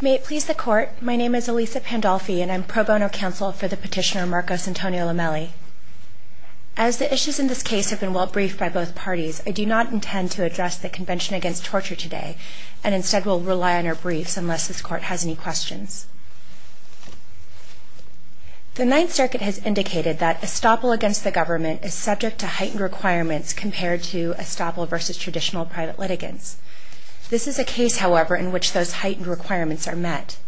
May it please the Court, my name is Elisa Pandolfi and I'm pro bono counsel for the petitioner Marcos Antonio Lomeli. As the issues in this case have been well-briefed by both parties, I do not intend to address the Convention Against Torture today, and instead will rely on our briefs unless this Court has any questions. The Ninth Circuit has indicated that estoppel against the government is subject to heightened requirements compared to estoppel versus traditional private litigants. This is a case, however, in which those heightened requirements are met.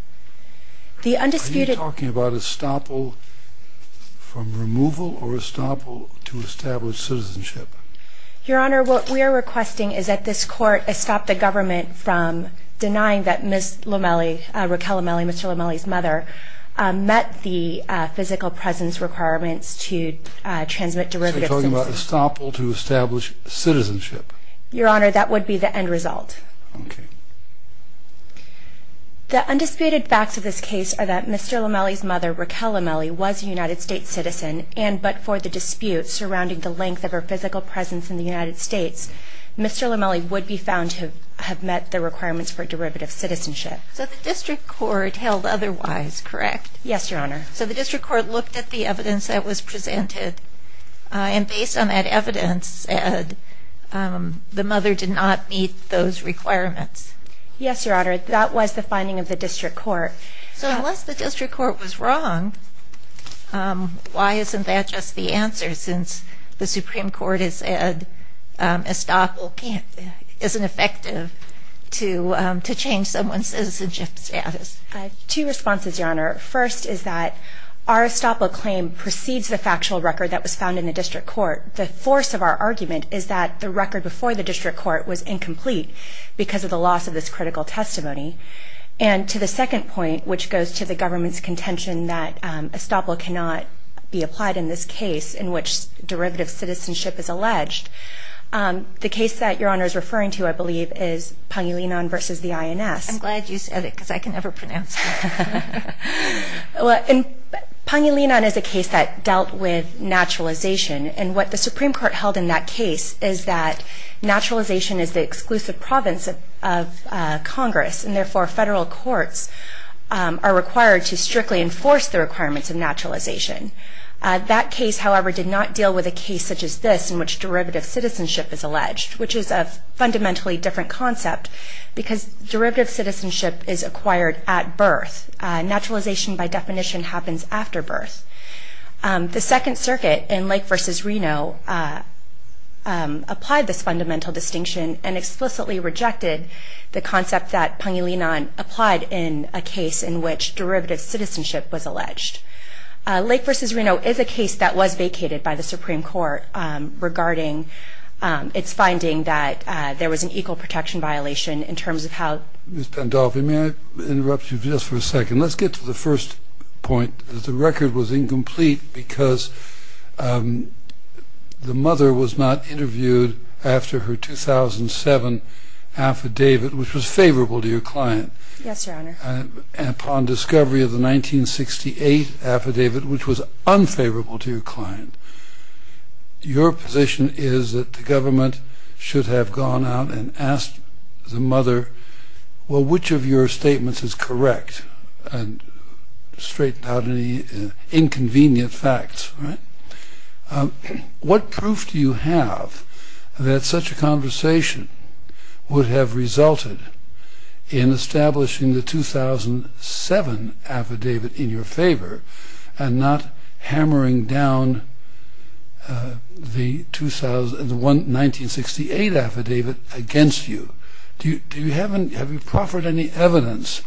The undisputed... Are you talking about estoppel from removal or estoppel to establish citizenship? Your Honor, what we are requesting is that this Court estop the government from denying that Ms. Lomeli, Raquel Lomeli, Mr. Lomeli's mother, met the physical presence requirements to transmit derivative citizenship. So you're talking about estoppel to establish citizenship? Your Honor, that would be the end result. The undisputed facts of this case are that Mr. Lomeli's mother, Raquel Lomeli, was a United States citizen, and but for the dispute surrounding the length of her physical presence in the United States, Mr. Lomeli would be found to have met the requirements for derivative citizenship. So the District Court held otherwise, correct? Yes, Your Honor. So the District Court looked at the evidence that was presented, and based on that evidence, the mother did not meet those requirements. Yes, Your Honor, that was the finding of the District Court. So unless the District Court was wrong, why isn't that just the answer, since the Supreme Court has said estoppel isn't effective to change someone's citizenship status? Two responses, Your Honor. First is that our estoppel claim precedes the factual record that was found in the District Court. The force of our argument is that the record before the District Court was incomplete because of the loss of this critical testimony. And to the second point, which goes to the government's contention that estoppel cannot be applied in this case in which derivative citizenship is alleged, the case that Your Honor is referring to, I believe, is Pangilinan v. the INS. I'm glad you said it, because I can never pronounce it. Well, Pangilinan is a case that dealt with naturalization, and what the Supreme Court held in that case is that naturalization is the exclusive province of Congress, and therefore federal courts are required to strictly enforce the requirements of naturalization. That case, however, did not deal with a case such as this in which derivative citizenship is alleged, which is a fundamentally different concept because derivative citizenship is acquired at birth. Naturalization by definition happens after birth. The Second Circuit in Lake v. Reno applied this fundamental distinction and explicitly rejected the concept that Pangilinan applied in a case in which derivative citizenship was alleged. Lake v. Reno is a case that was vacated by the Supreme Court regarding its finding that there was an equal protection violation in terms of how... Ms. Pandolfi, may I interrupt you just for a second? Let's get to the first point. The record was incomplete because the mother was not interviewed after her 2007 affidavit, which was favorable to your client. Yes, Your Honor. Upon discovery of the 1968 affidavit, which was unfavorable to your client, your position is that the government should have gone out and asked the mother, well, which of your statements is correct, and straightened out any inconvenient facts, right? What proof do you have that such a conversation would have resulted in establishing the 2007 affidavit in your favor and not hammering down the 1968 affidavit against you? Have you proffered any evidence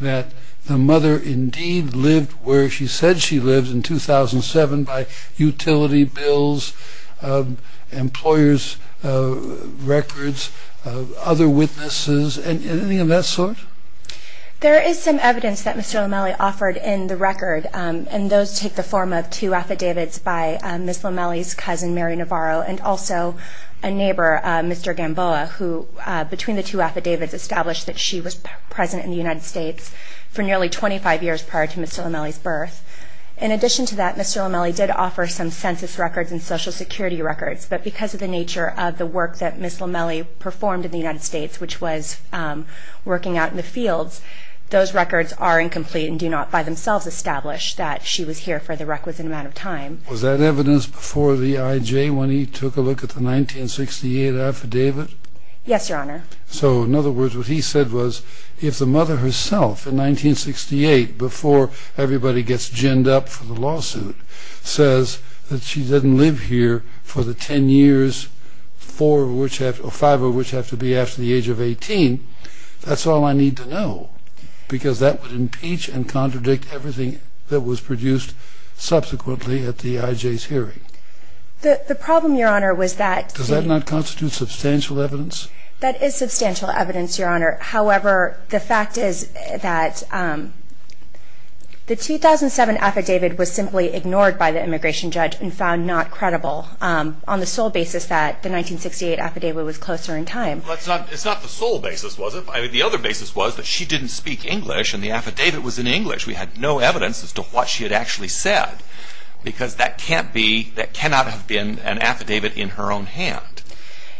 that the mother indeed lived where she said she lived in 2007 by utility bills, employers' records, other witnesses, anything of that sort? There is some evidence that Mr. Lomeli offered in the record, and those take the form of two affidavits by Ms. Lomeli's cousin, Mary Navarro, and also a neighbor, Mr. Gamboa, who between the two affidavits established that she was present in the United States for nearly 25 years prior to Mr. Lomeli's birth. In addition to that, Mr. Lomeli did offer some census records and social security records, but because of the nature of the work that Ms. Lomeli performed in the United States, which was working out in the fields, those records are incomplete and do not by themselves establish that she was here for the requisite amount of time. Was that evidence before the IJ when he took a look at the 1968 affidavit? Yes, Your Honor. So in other words, what he said was, if the mother herself in 1968, before everybody gets ginned up for the lawsuit, says that she didn't live here for the 10 years, 5 of which have to be after the age of 18, that's all I need to know, because that would impeach and contradict everything that was produced subsequently at the IJ's hearing. The problem, Your Honor, was that... Does that not constitute substantial evidence? That is substantial evidence, Your Honor. However, the fact is that the 2007 affidavit was simply ignored by the immigration judge and found not credible on the sole basis that the 1968 affidavit was closer in time. It's not the sole basis, was it? The other basis was that she didn't speak English and the affidavit was in English. We had no evidence as to what she had actually said, because that cannot have been an affidavit in her own hand,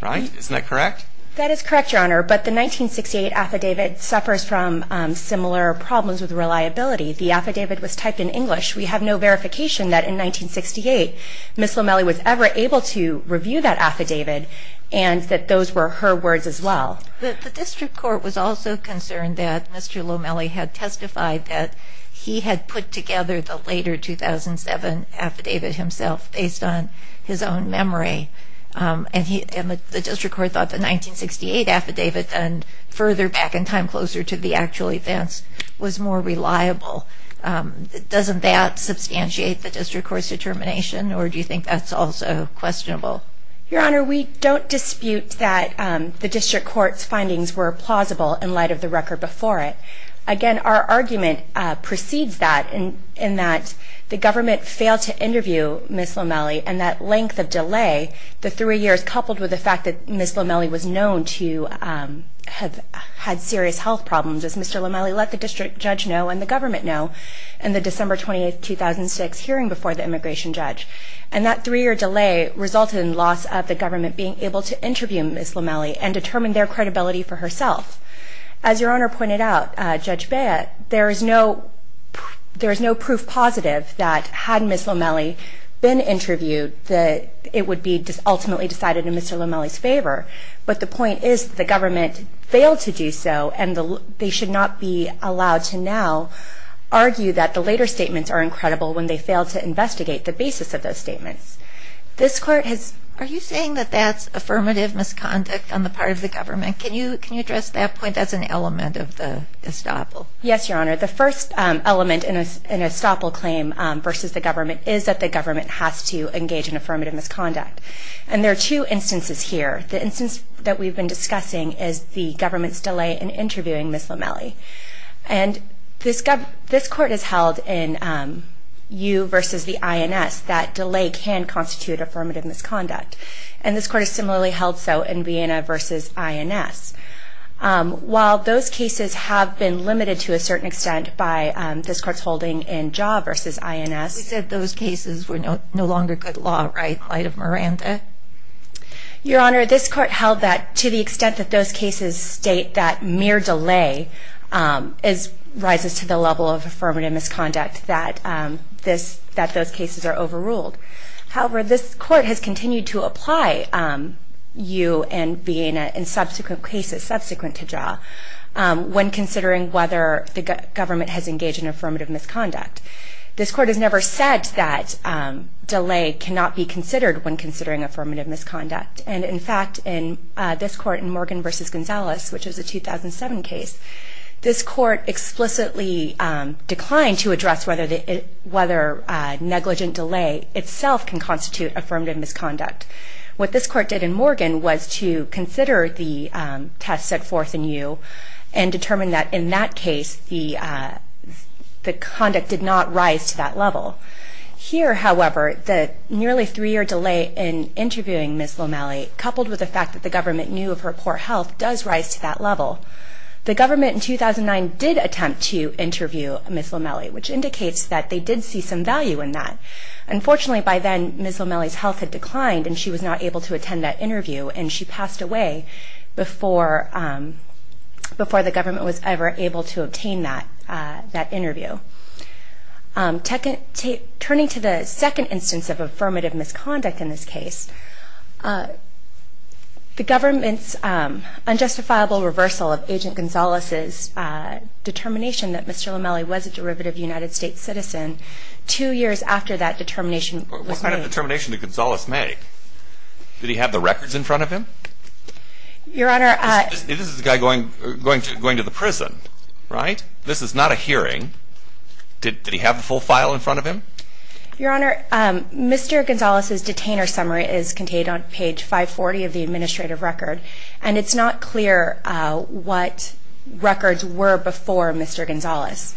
right? Isn't that correct? That is correct, Your Honor, but the 1968 affidavit suffers from similar problems with reliability. The affidavit was typed in English. We have no verification that in 1968, Ms. Lomeli was ever able to review that affidavit and that those were her words as well. The district court was also concerned that Mr. Lomeli had testified that he had put together the later 2007 affidavit himself based on his own memory. And the district court thought the 1968 affidavit and further back in time closer to the actual events was more reliable. Doesn't that substantiate the district court's determination, or do you think that's also questionable? Your Honor, we don't dispute that the district court's findings were plausible in light of the record before it. Again, our argument precedes that in that the government failed to interview Ms. Lomeli and that length of delay, the three years coupled with the fact that Ms. Lomeli was known to have had serious health problems, as Mr. Lomeli let the district judge know and the government know in the December 28, 2006 hearing before the immigration judge. And that three-year delay resulted in loss of the government being able to interview Ms. Lomeli and determine their credibility for herself. As Your Honor pointed out, Judge Beyer, there is no proof positive that had Ms. Lomeli been interviewed, that it would be ultimately decided in Mr. Lomeli's favor. But the point is that the government failed to do so and they should not be allowed to now argue that the later statements are incredible when they failed to investigate the basis of those statements. This court has... Are you saying that that's affirmative misconduct on the part of the government? Can you address that point as an element of the estoppel? Yes, Your Honor. The first element in an estoppel claim versus the government is that the government has to engage in affirmative misconduct. And there are two instances here. The instance that we've been discussing is the government's delay in interviewing Ms. Lomeli. And this court has held in you versus the INS that delay can constitute affirmative misconduct. And this court has similarly held so in Vienna versus INS. While those cases have been limited to a certain extent by this court's holding in Jaw versus INS... You said those cases were no longer good law, right, in light of Miranda? Your Honor, this court held that to the extent that those cases state that mere delay rises to the level of affirmative misconduct, that those cases are overruled. However, this court has continued to apply you and Vienna in subsequent cases, subsequent to Jaw, when considering whether the government has engaged in affirmative misconduct. This court has never said that delay cannot be considered when considering affirmative misconduct. And in fact, in this court, in Morgan versus Gonzalez, which is a 2007 case, this court itself can constitute affirmative misconduct. What this court did in Morgan was to consider the test set forth in you and determine that in that case, the conduct did not rise to that level. Here, however, the nearly three-year delay in interviewing Ms. Lomeli, coupled with the fact that the government knew of her poor health, does rise to that level. The government in 2009 did attempt to interview Ms. Lomeli, which indicates that they did see some value in that. Unfortunately, by then, Ms. Lomeli's health had declined and she was not able to attend that interview, and she passed away before the government was ever able to obtain that interview. Turning to the second instance of affirmative misconduct in this case, the government's unjustifiable reversal of Agent Gonzalez's determination that Ms. Lomeli was a derivative United States citizen, two years after that determination was made. What kind of determination did Gonzalez make? Did he have the records in front of him? Your Honor... This is the guy going to the prison, right? This is not a hearing. Did he have the full file in front of him? Your Honor, Mr. Gonzalez's detainer summary is contained on page 540 of the administrative record, and it's not clear what records were before Mr. Gonzalez.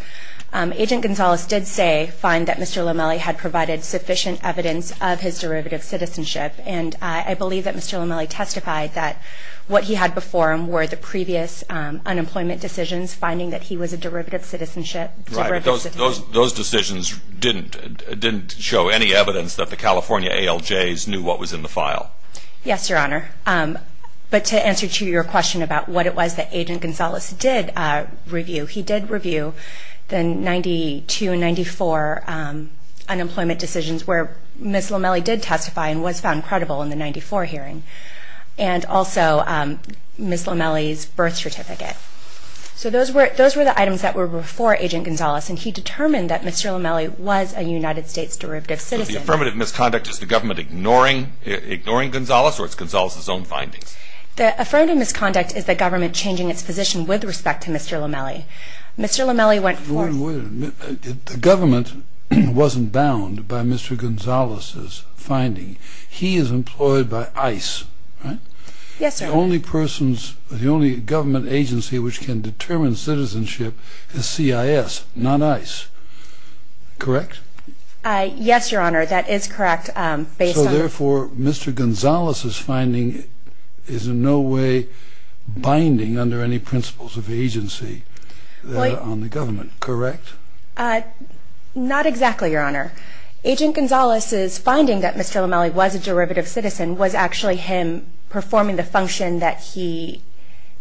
Agent Gonzalez did say, find that Mr. Lomeli had provided sufficient evidence of his derivative citizenship, and I believe that Mr. Lomeli testified that what he had before him were the previous unemployment decisions, finding that he was a derivative citizenship. Those decisions didn't show any evidence that the California ALJs knew what was in the file? Yes, Your Honor, but to answer to your question about what it was that Agent Gonzalez did review, he did review the 92-94 unemployment decisions where Ms. Lomeli did testify and was found credible in the 94 hearing, and also Ms. Lomeli's birth certificate. So those were the items that were before Agent Gonzalez, and he determined that Mr. Lomeli was a United States derivative citizen. So the affirmative misconduct is the government ignoring Gonzalez, or it's Gonzalez's own findings? The affirmative misconduct is the government changing its position with respect to Mr. Lomeli. Mr. Lomeli went forth... Wait a minute. Wait a minute. The government wasn't bound by Mr. Gonzalez's finding. He is employed by ICE, right? Yes, sir. The only person's, the only government agency which can determine citizenship is CIS, not ICE. Correct? Yes, Your Honor. That is correct. Based on... Agent Gonzalez's finding is in no way binding under any principles of agency on the government, correct? Not exactly, Your Honor. Agent Gonzalez's finding that Mr. Lomeli was a derivative citizen was actually him performing the function that he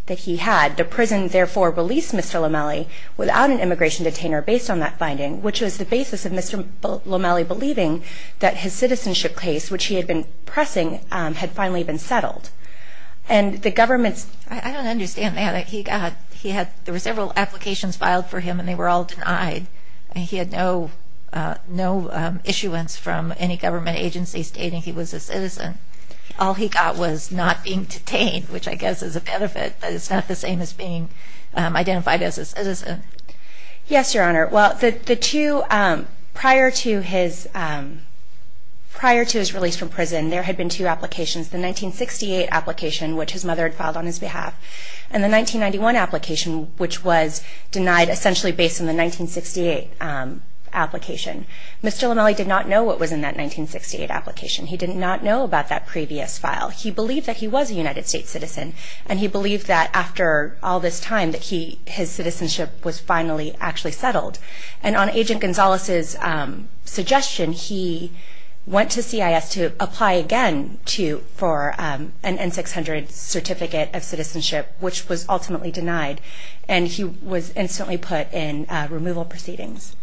had. The prison therefore released Mr. Lomeli without an immigration detainer based on that finding, which was the basis of Mr. Lomeli believing that his citizenship case, which he had been finally been settled. And the government's... I don't understand that. He had... There were several applications filed for him and they were all denied. He had no issuance from any government agency stating he was a citizen. All he got was not being detained, which I guess is a benefit, but it's not the same as being identified as a citizen. Yes, Your Honor. Well, the two prior to his... Prior to his release from prison, there had been two applications, the 1968 application, which his mother had filed on his behalf, and the 1991 application, which was denied essentially based on the 1968 application. Mr. Lomeli did not know what was in that 1968 application. He did not know about that previous file. He believed that he was a United States citizen and he believed that after all this time that his citizenship was finally actually settled. And on Agent Gonzalez's suggestion, he went to CIS to apply again for an N-600 certificate of citizenship, which was ultimately denied. And he was instantly put in removal proceedings.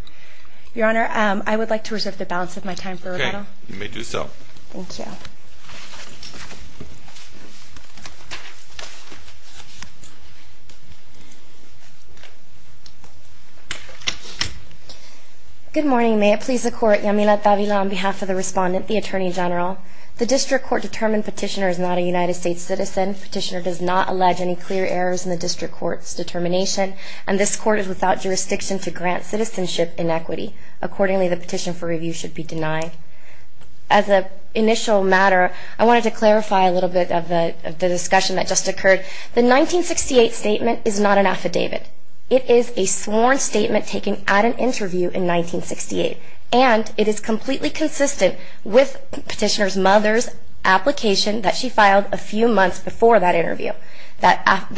Your Honor, I would like to reserve the balance of my time for rebuttal. Okay. You may do so. Thank you. Good morning. May it please the Court, Yamila Tavila on behalf of the Respondent, the Attorney General. The District Court determined Petitioner is not a United States citizen. Petitioner does not allege any clear errors in the District Court's determination, and this Court is without jurisdiction to grant citizenship inequity. Accordingly, the petition for review should be denied. As an initial matter, I wanted to clarify a little bit of the discussion that just occurred. The 1968 statement is not an affidavit. It is a sworn statement taken at an interview in 1968. And it is completely consistent with Petitioner's mother's application that she filed a few months before that interview. That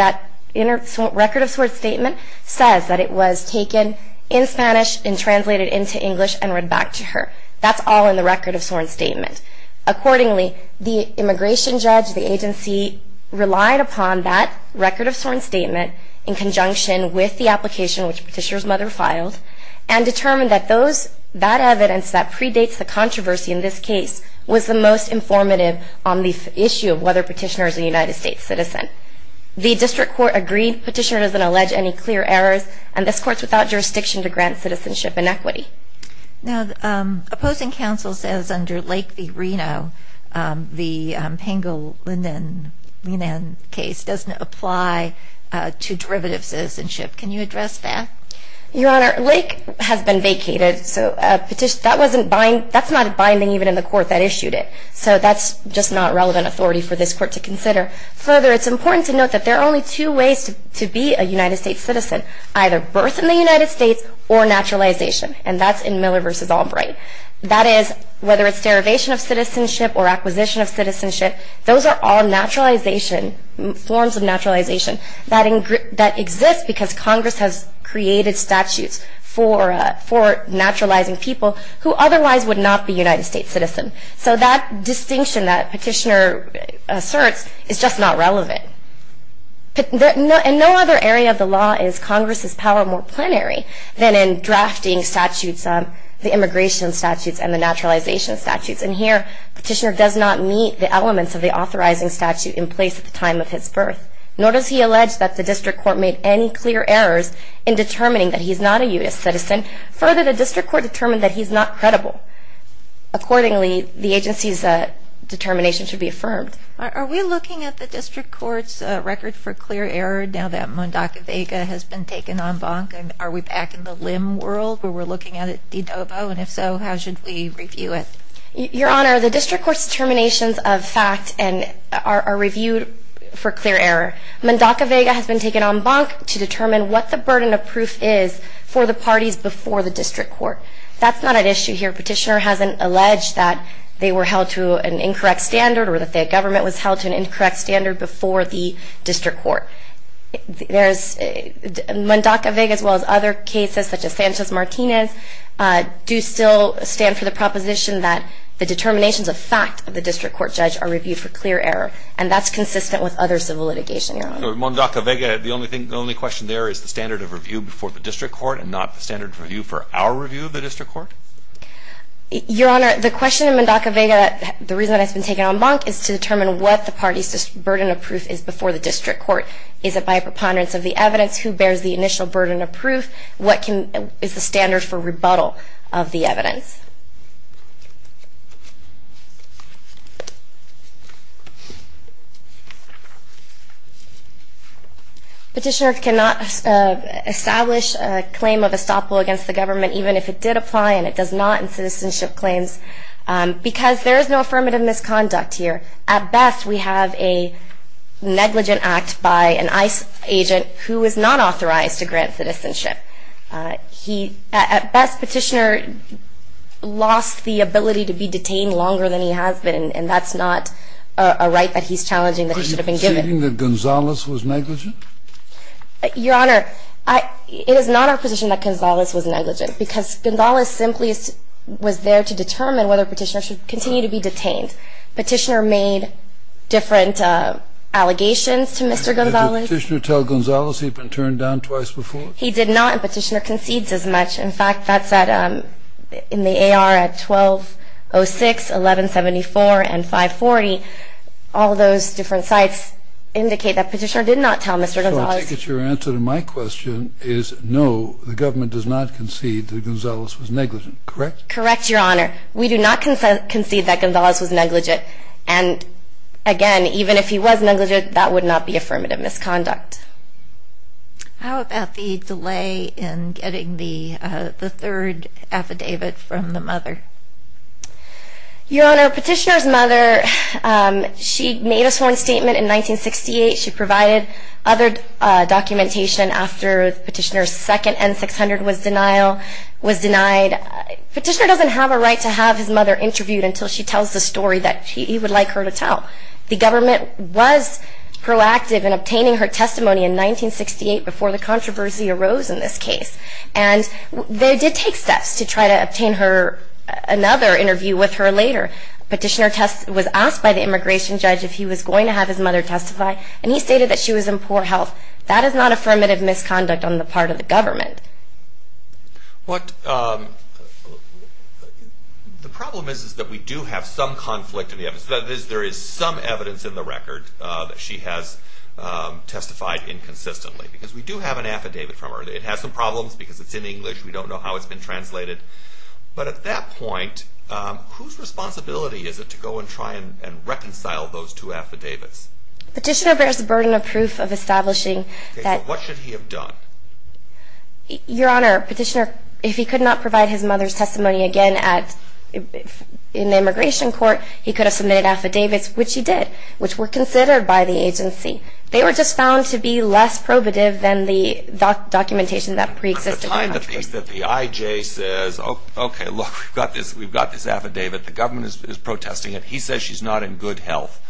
record of sworn statement says that it was taken in Spanish and translated into English and read back to her. That's all in the record of sworn statement. Accordingly, the immigration judge, the agency relied upon that record of sworn statement in conjunction with the application which Petitioner's mother filed and determined that that evidence that predates the controversy in this case was the most informative on the issue of whether Petitioner is a United States citizen. The District Court agreed Petitioner doesn't allege any clear errors, and this Court is without jurisdiction to grant citizenship inequity. Now, opposing counsel says under Lake v. Reno, the Pangellinan case doesn't apply to derivative citizenship. Can you address that? Your Honor, Lake has been vacated, so that's not binding even in the court that issued it. So that's just not relevant authority for this court to consider. Further, it's important to note that there are only two ways to be a United States citizen, either birth in the United States or naturalization. And that's in Miller v. Albright. That is, whether it's derivation of citizenship or acquisition of citizenship, those are all naturalization, forms of naturalization that exist because Congress has created statutes for naturalizing people who otherwise would not be United States citizens. So that distinction that Petitioner asserts is just not relevant. And no other area of the law is Congress's power more plenary than in drafting statutes on the immigration statutes and the naturalization statutes. And here, Petitioner does not meet the elements of the authorizing statute in place at the time of his birth, nor does he allege that the District Court made any clear errors in determining that he's not a U.S. citizen. Further, the District Court determined that he's not credible. Accordingly, the agency's determination should be affirmed. Are we looking at the District Court's record for clear error now that Mundaka Vega has been taken en banc? Are we back in the limb world where we're looking at it de novo, and if so, how should we review it? Your Honor, the District Court's determinations of fact are reviewed for clear error. Mundaka Vega has been taken en banc to determine what the burden of proof is for the parties before the District Court. That's not an issue here. Petitioner hasn't alleged that they were held to an incorrect standard or that their government was held to an incorrect standard before the District Court. Mundaka Vega, as well as other cases such as Sanchez-Martinez, do still stand for the proposition that the determinations of fact of the District Court judge are reviewed for clear error. And that's consistent with other civil litigation, Your Honor. Mundaka Vega, the only question there is the standard of review before the District Court and not the standard of review for our review of the District Court? Your Honor, the question of Mundaka Vega, the reason that it's been taken en banc is to determine what the parties' burden of proof is before the District Court. Is it by a preponderance of the evidence? Who bears the initial burden of proof? Petitioner cannot establish a claim of estoppel against the government even if it did apply and it does not in citizenship claims because there is no affirmative misconduct here. At best, we have a negligent act by an ICE agent who is not authorized to grant citizenship. At best, Petitioner lost the ability to be detained longer than he has been and that's not a right that he's challenging that he should have been given. Are you conceding that Gonzales was negligent? Your Honor, it is not our position that Gonzales was negligent because Gonzales simply was there to determine whether Petitioner should continue to be detained. Petitioner made different allegations to Mr. Gonzales. Did the Petitioner tell Gonzales he'd been turned down twice before? He did not and Petitioner concedes as much. In fact, that said, in the AR at 1206, 1174, and 540, all those different sites indicate that Petitioner did not tell Mr. Gonzales. So I take it your answer to my question is no, the government does not concede that Gonzales was negligent, correct? Correct, Your Honor. We do not concede that Gonzales was negligent and again, even if he was negligent, that would not be affirmative misconduct. How about the delay in getting the third affidavit from the mother? Your Honor, Petitioner's mother, she made a sworn statement in 1968. She provided other documentation after Petitioner's second N-600 was denied. Petitioner doesn't have a right to have his mother interviewed until she tells the story that he would like her to tell. The government was proactive in obtaining her testimony in 1968 before the controversy arose in this case and they did take steps to try to obtain her another interview with her later. Petitioner was asked by the immigration judge if he was going to have his mother testify and he stated that she was in poor health. That is not affirmative misconduct on the part of the government. The problem is that we do have some conflict in the evidence. That is, there is some evidence in the record that she has testified inconsistently because we do have an affidavit from her. It has some problems because it's in English. We don't know how it's been translated. But at that point, whose responsibility is it to go and try and reconcile those two affidavits? Petitioner bears the burden of proof of establishing that. Okay, so what should he have done? Your Honor, Petitioner, if he could not provide his mother's testimony again in the immigration court, he could have submitted affidavits, which he did, which were considered by the agency. They were just found to be less probative than the documentation that preexisted. The IJ says, okay, look, we've got this affidavit. The government is protesting it. He says she's not in good health.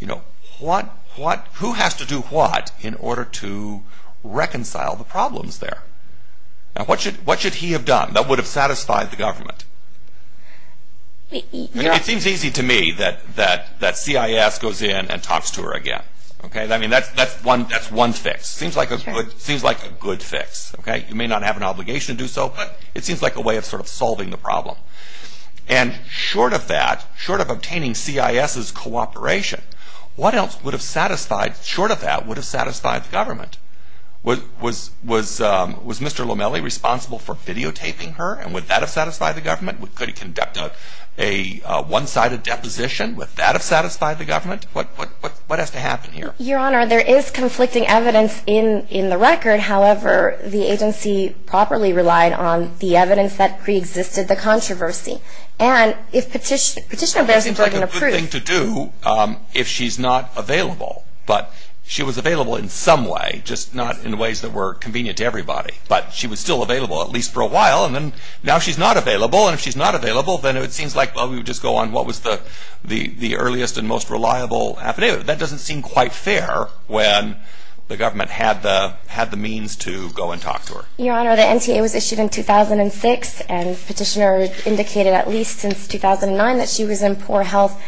Who has to do what in order to reconcile the problems there? What should he have done that would have satisfied the government? It seems easy to me that CIS goes in and talks to her again. That's one fix. It seems like a good fix. You may not have an obligation to do so, but it seems like a way of sort of solving the problem. And short of that, short of obtaining CIS's cooperation, what else would have satisfied, short of that, would have satisfied the government? Was Mr. Lomelli responsible for videotaping her, and would that have satisfied the government? Could he conduct a one-sided deposition? Would that have satisfied the government? What has to happen here? Your Honor, there is conflicting evidence in the record. However, the agency properly relied on the evidence that preexisted the controversy. And if petitioner bears the burden of proof. It seems like a good thing to do if she's not available. But she was available in some way, just not in ways that were convenient to everybody. But she was still available, at least for a while. And then now she's not available, and if she's not available, then it seems like, well, we would just go on what was the earliest and most reliable affidavit. That doesn't seem quite fair when the government had the means to go and talk to her. Your Honor, the NTA was issued in 2006, and petitioner indicated at least since 2009 that she was in poor health.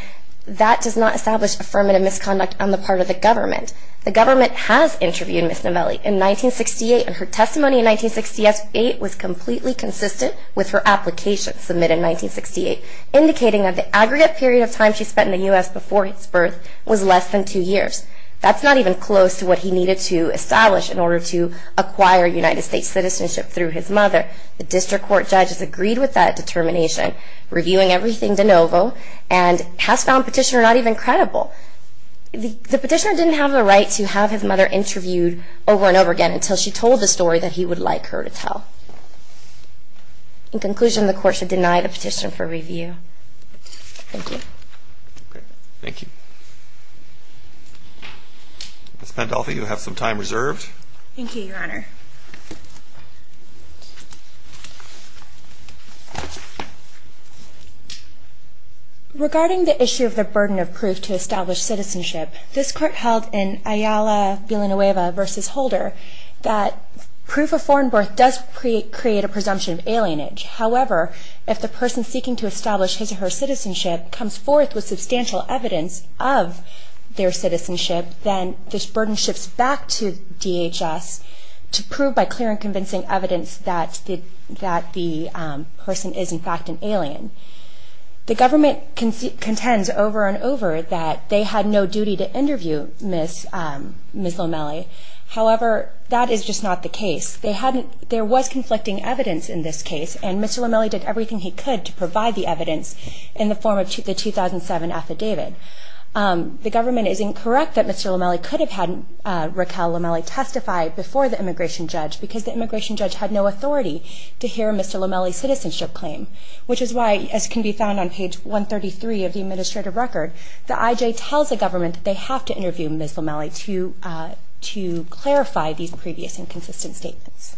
That does not establish affirmative misconduct on the part of the government. The government has interviewed Ms. Novelli in 1968, and her testimony in 1968 was completely consistent with her application submitted in 1968, indicating that the aggregate period of time she spent in the U.S. before his birth was less than two years. That's not even close to what he needed to establish in order to acquire United States citizenship through his mother. The district court judges agreed with that determination, reviewing everything de novo, and has found petitioner not even credible. The petitioner didn't have the right to have his mother interviewed over and over again until she told the story that he would like her to tell. In conclusion, the court should deny the petition for review. Thank you. Thank you. Ms. Pandolfi, you have some time reserved. Thank you, Your Honor. Regarding the issue of the burden of proof to establish citizenship, this Court held in Ayala-Villanueva v. Holder that proof of foreign birth does create a presumption of alienage. However, if the person seeking to establish his or her citizenship comes forth with substantial evidence of their citizenship, then this burden shifts back to DHS to prove by clear and convincing evidence that the person is, in fact, an alien. The government contends over and over that they had no duty to interview Ms. Lomelli. However, that is just not the case. There was conflicting evidence in this case, and Mr. Lomelli did everything he could to provide the evidence in the form of the 2007 affidavit. The government is incorrect that Mr. Lomelli could have had Raquel Lomelli testify before the immigration judge because the immigration judge had no authority to hear Mr. Lomelli's citizenship claim, which is why, as can be found on page 133 of the administrative record, the IJ tells the government that they have to interview Ms. Lomelli to clarify these previous inconsistent statements.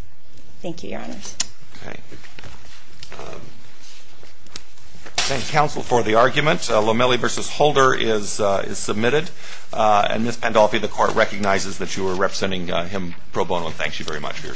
Thank you, Your Honors. Thank you, Counsel, for the argument. Lomelli v. Holder is submitted, and Ms. Pandolfi, the Court recognizes that you are representing him pro bono and thanks you very much for your service.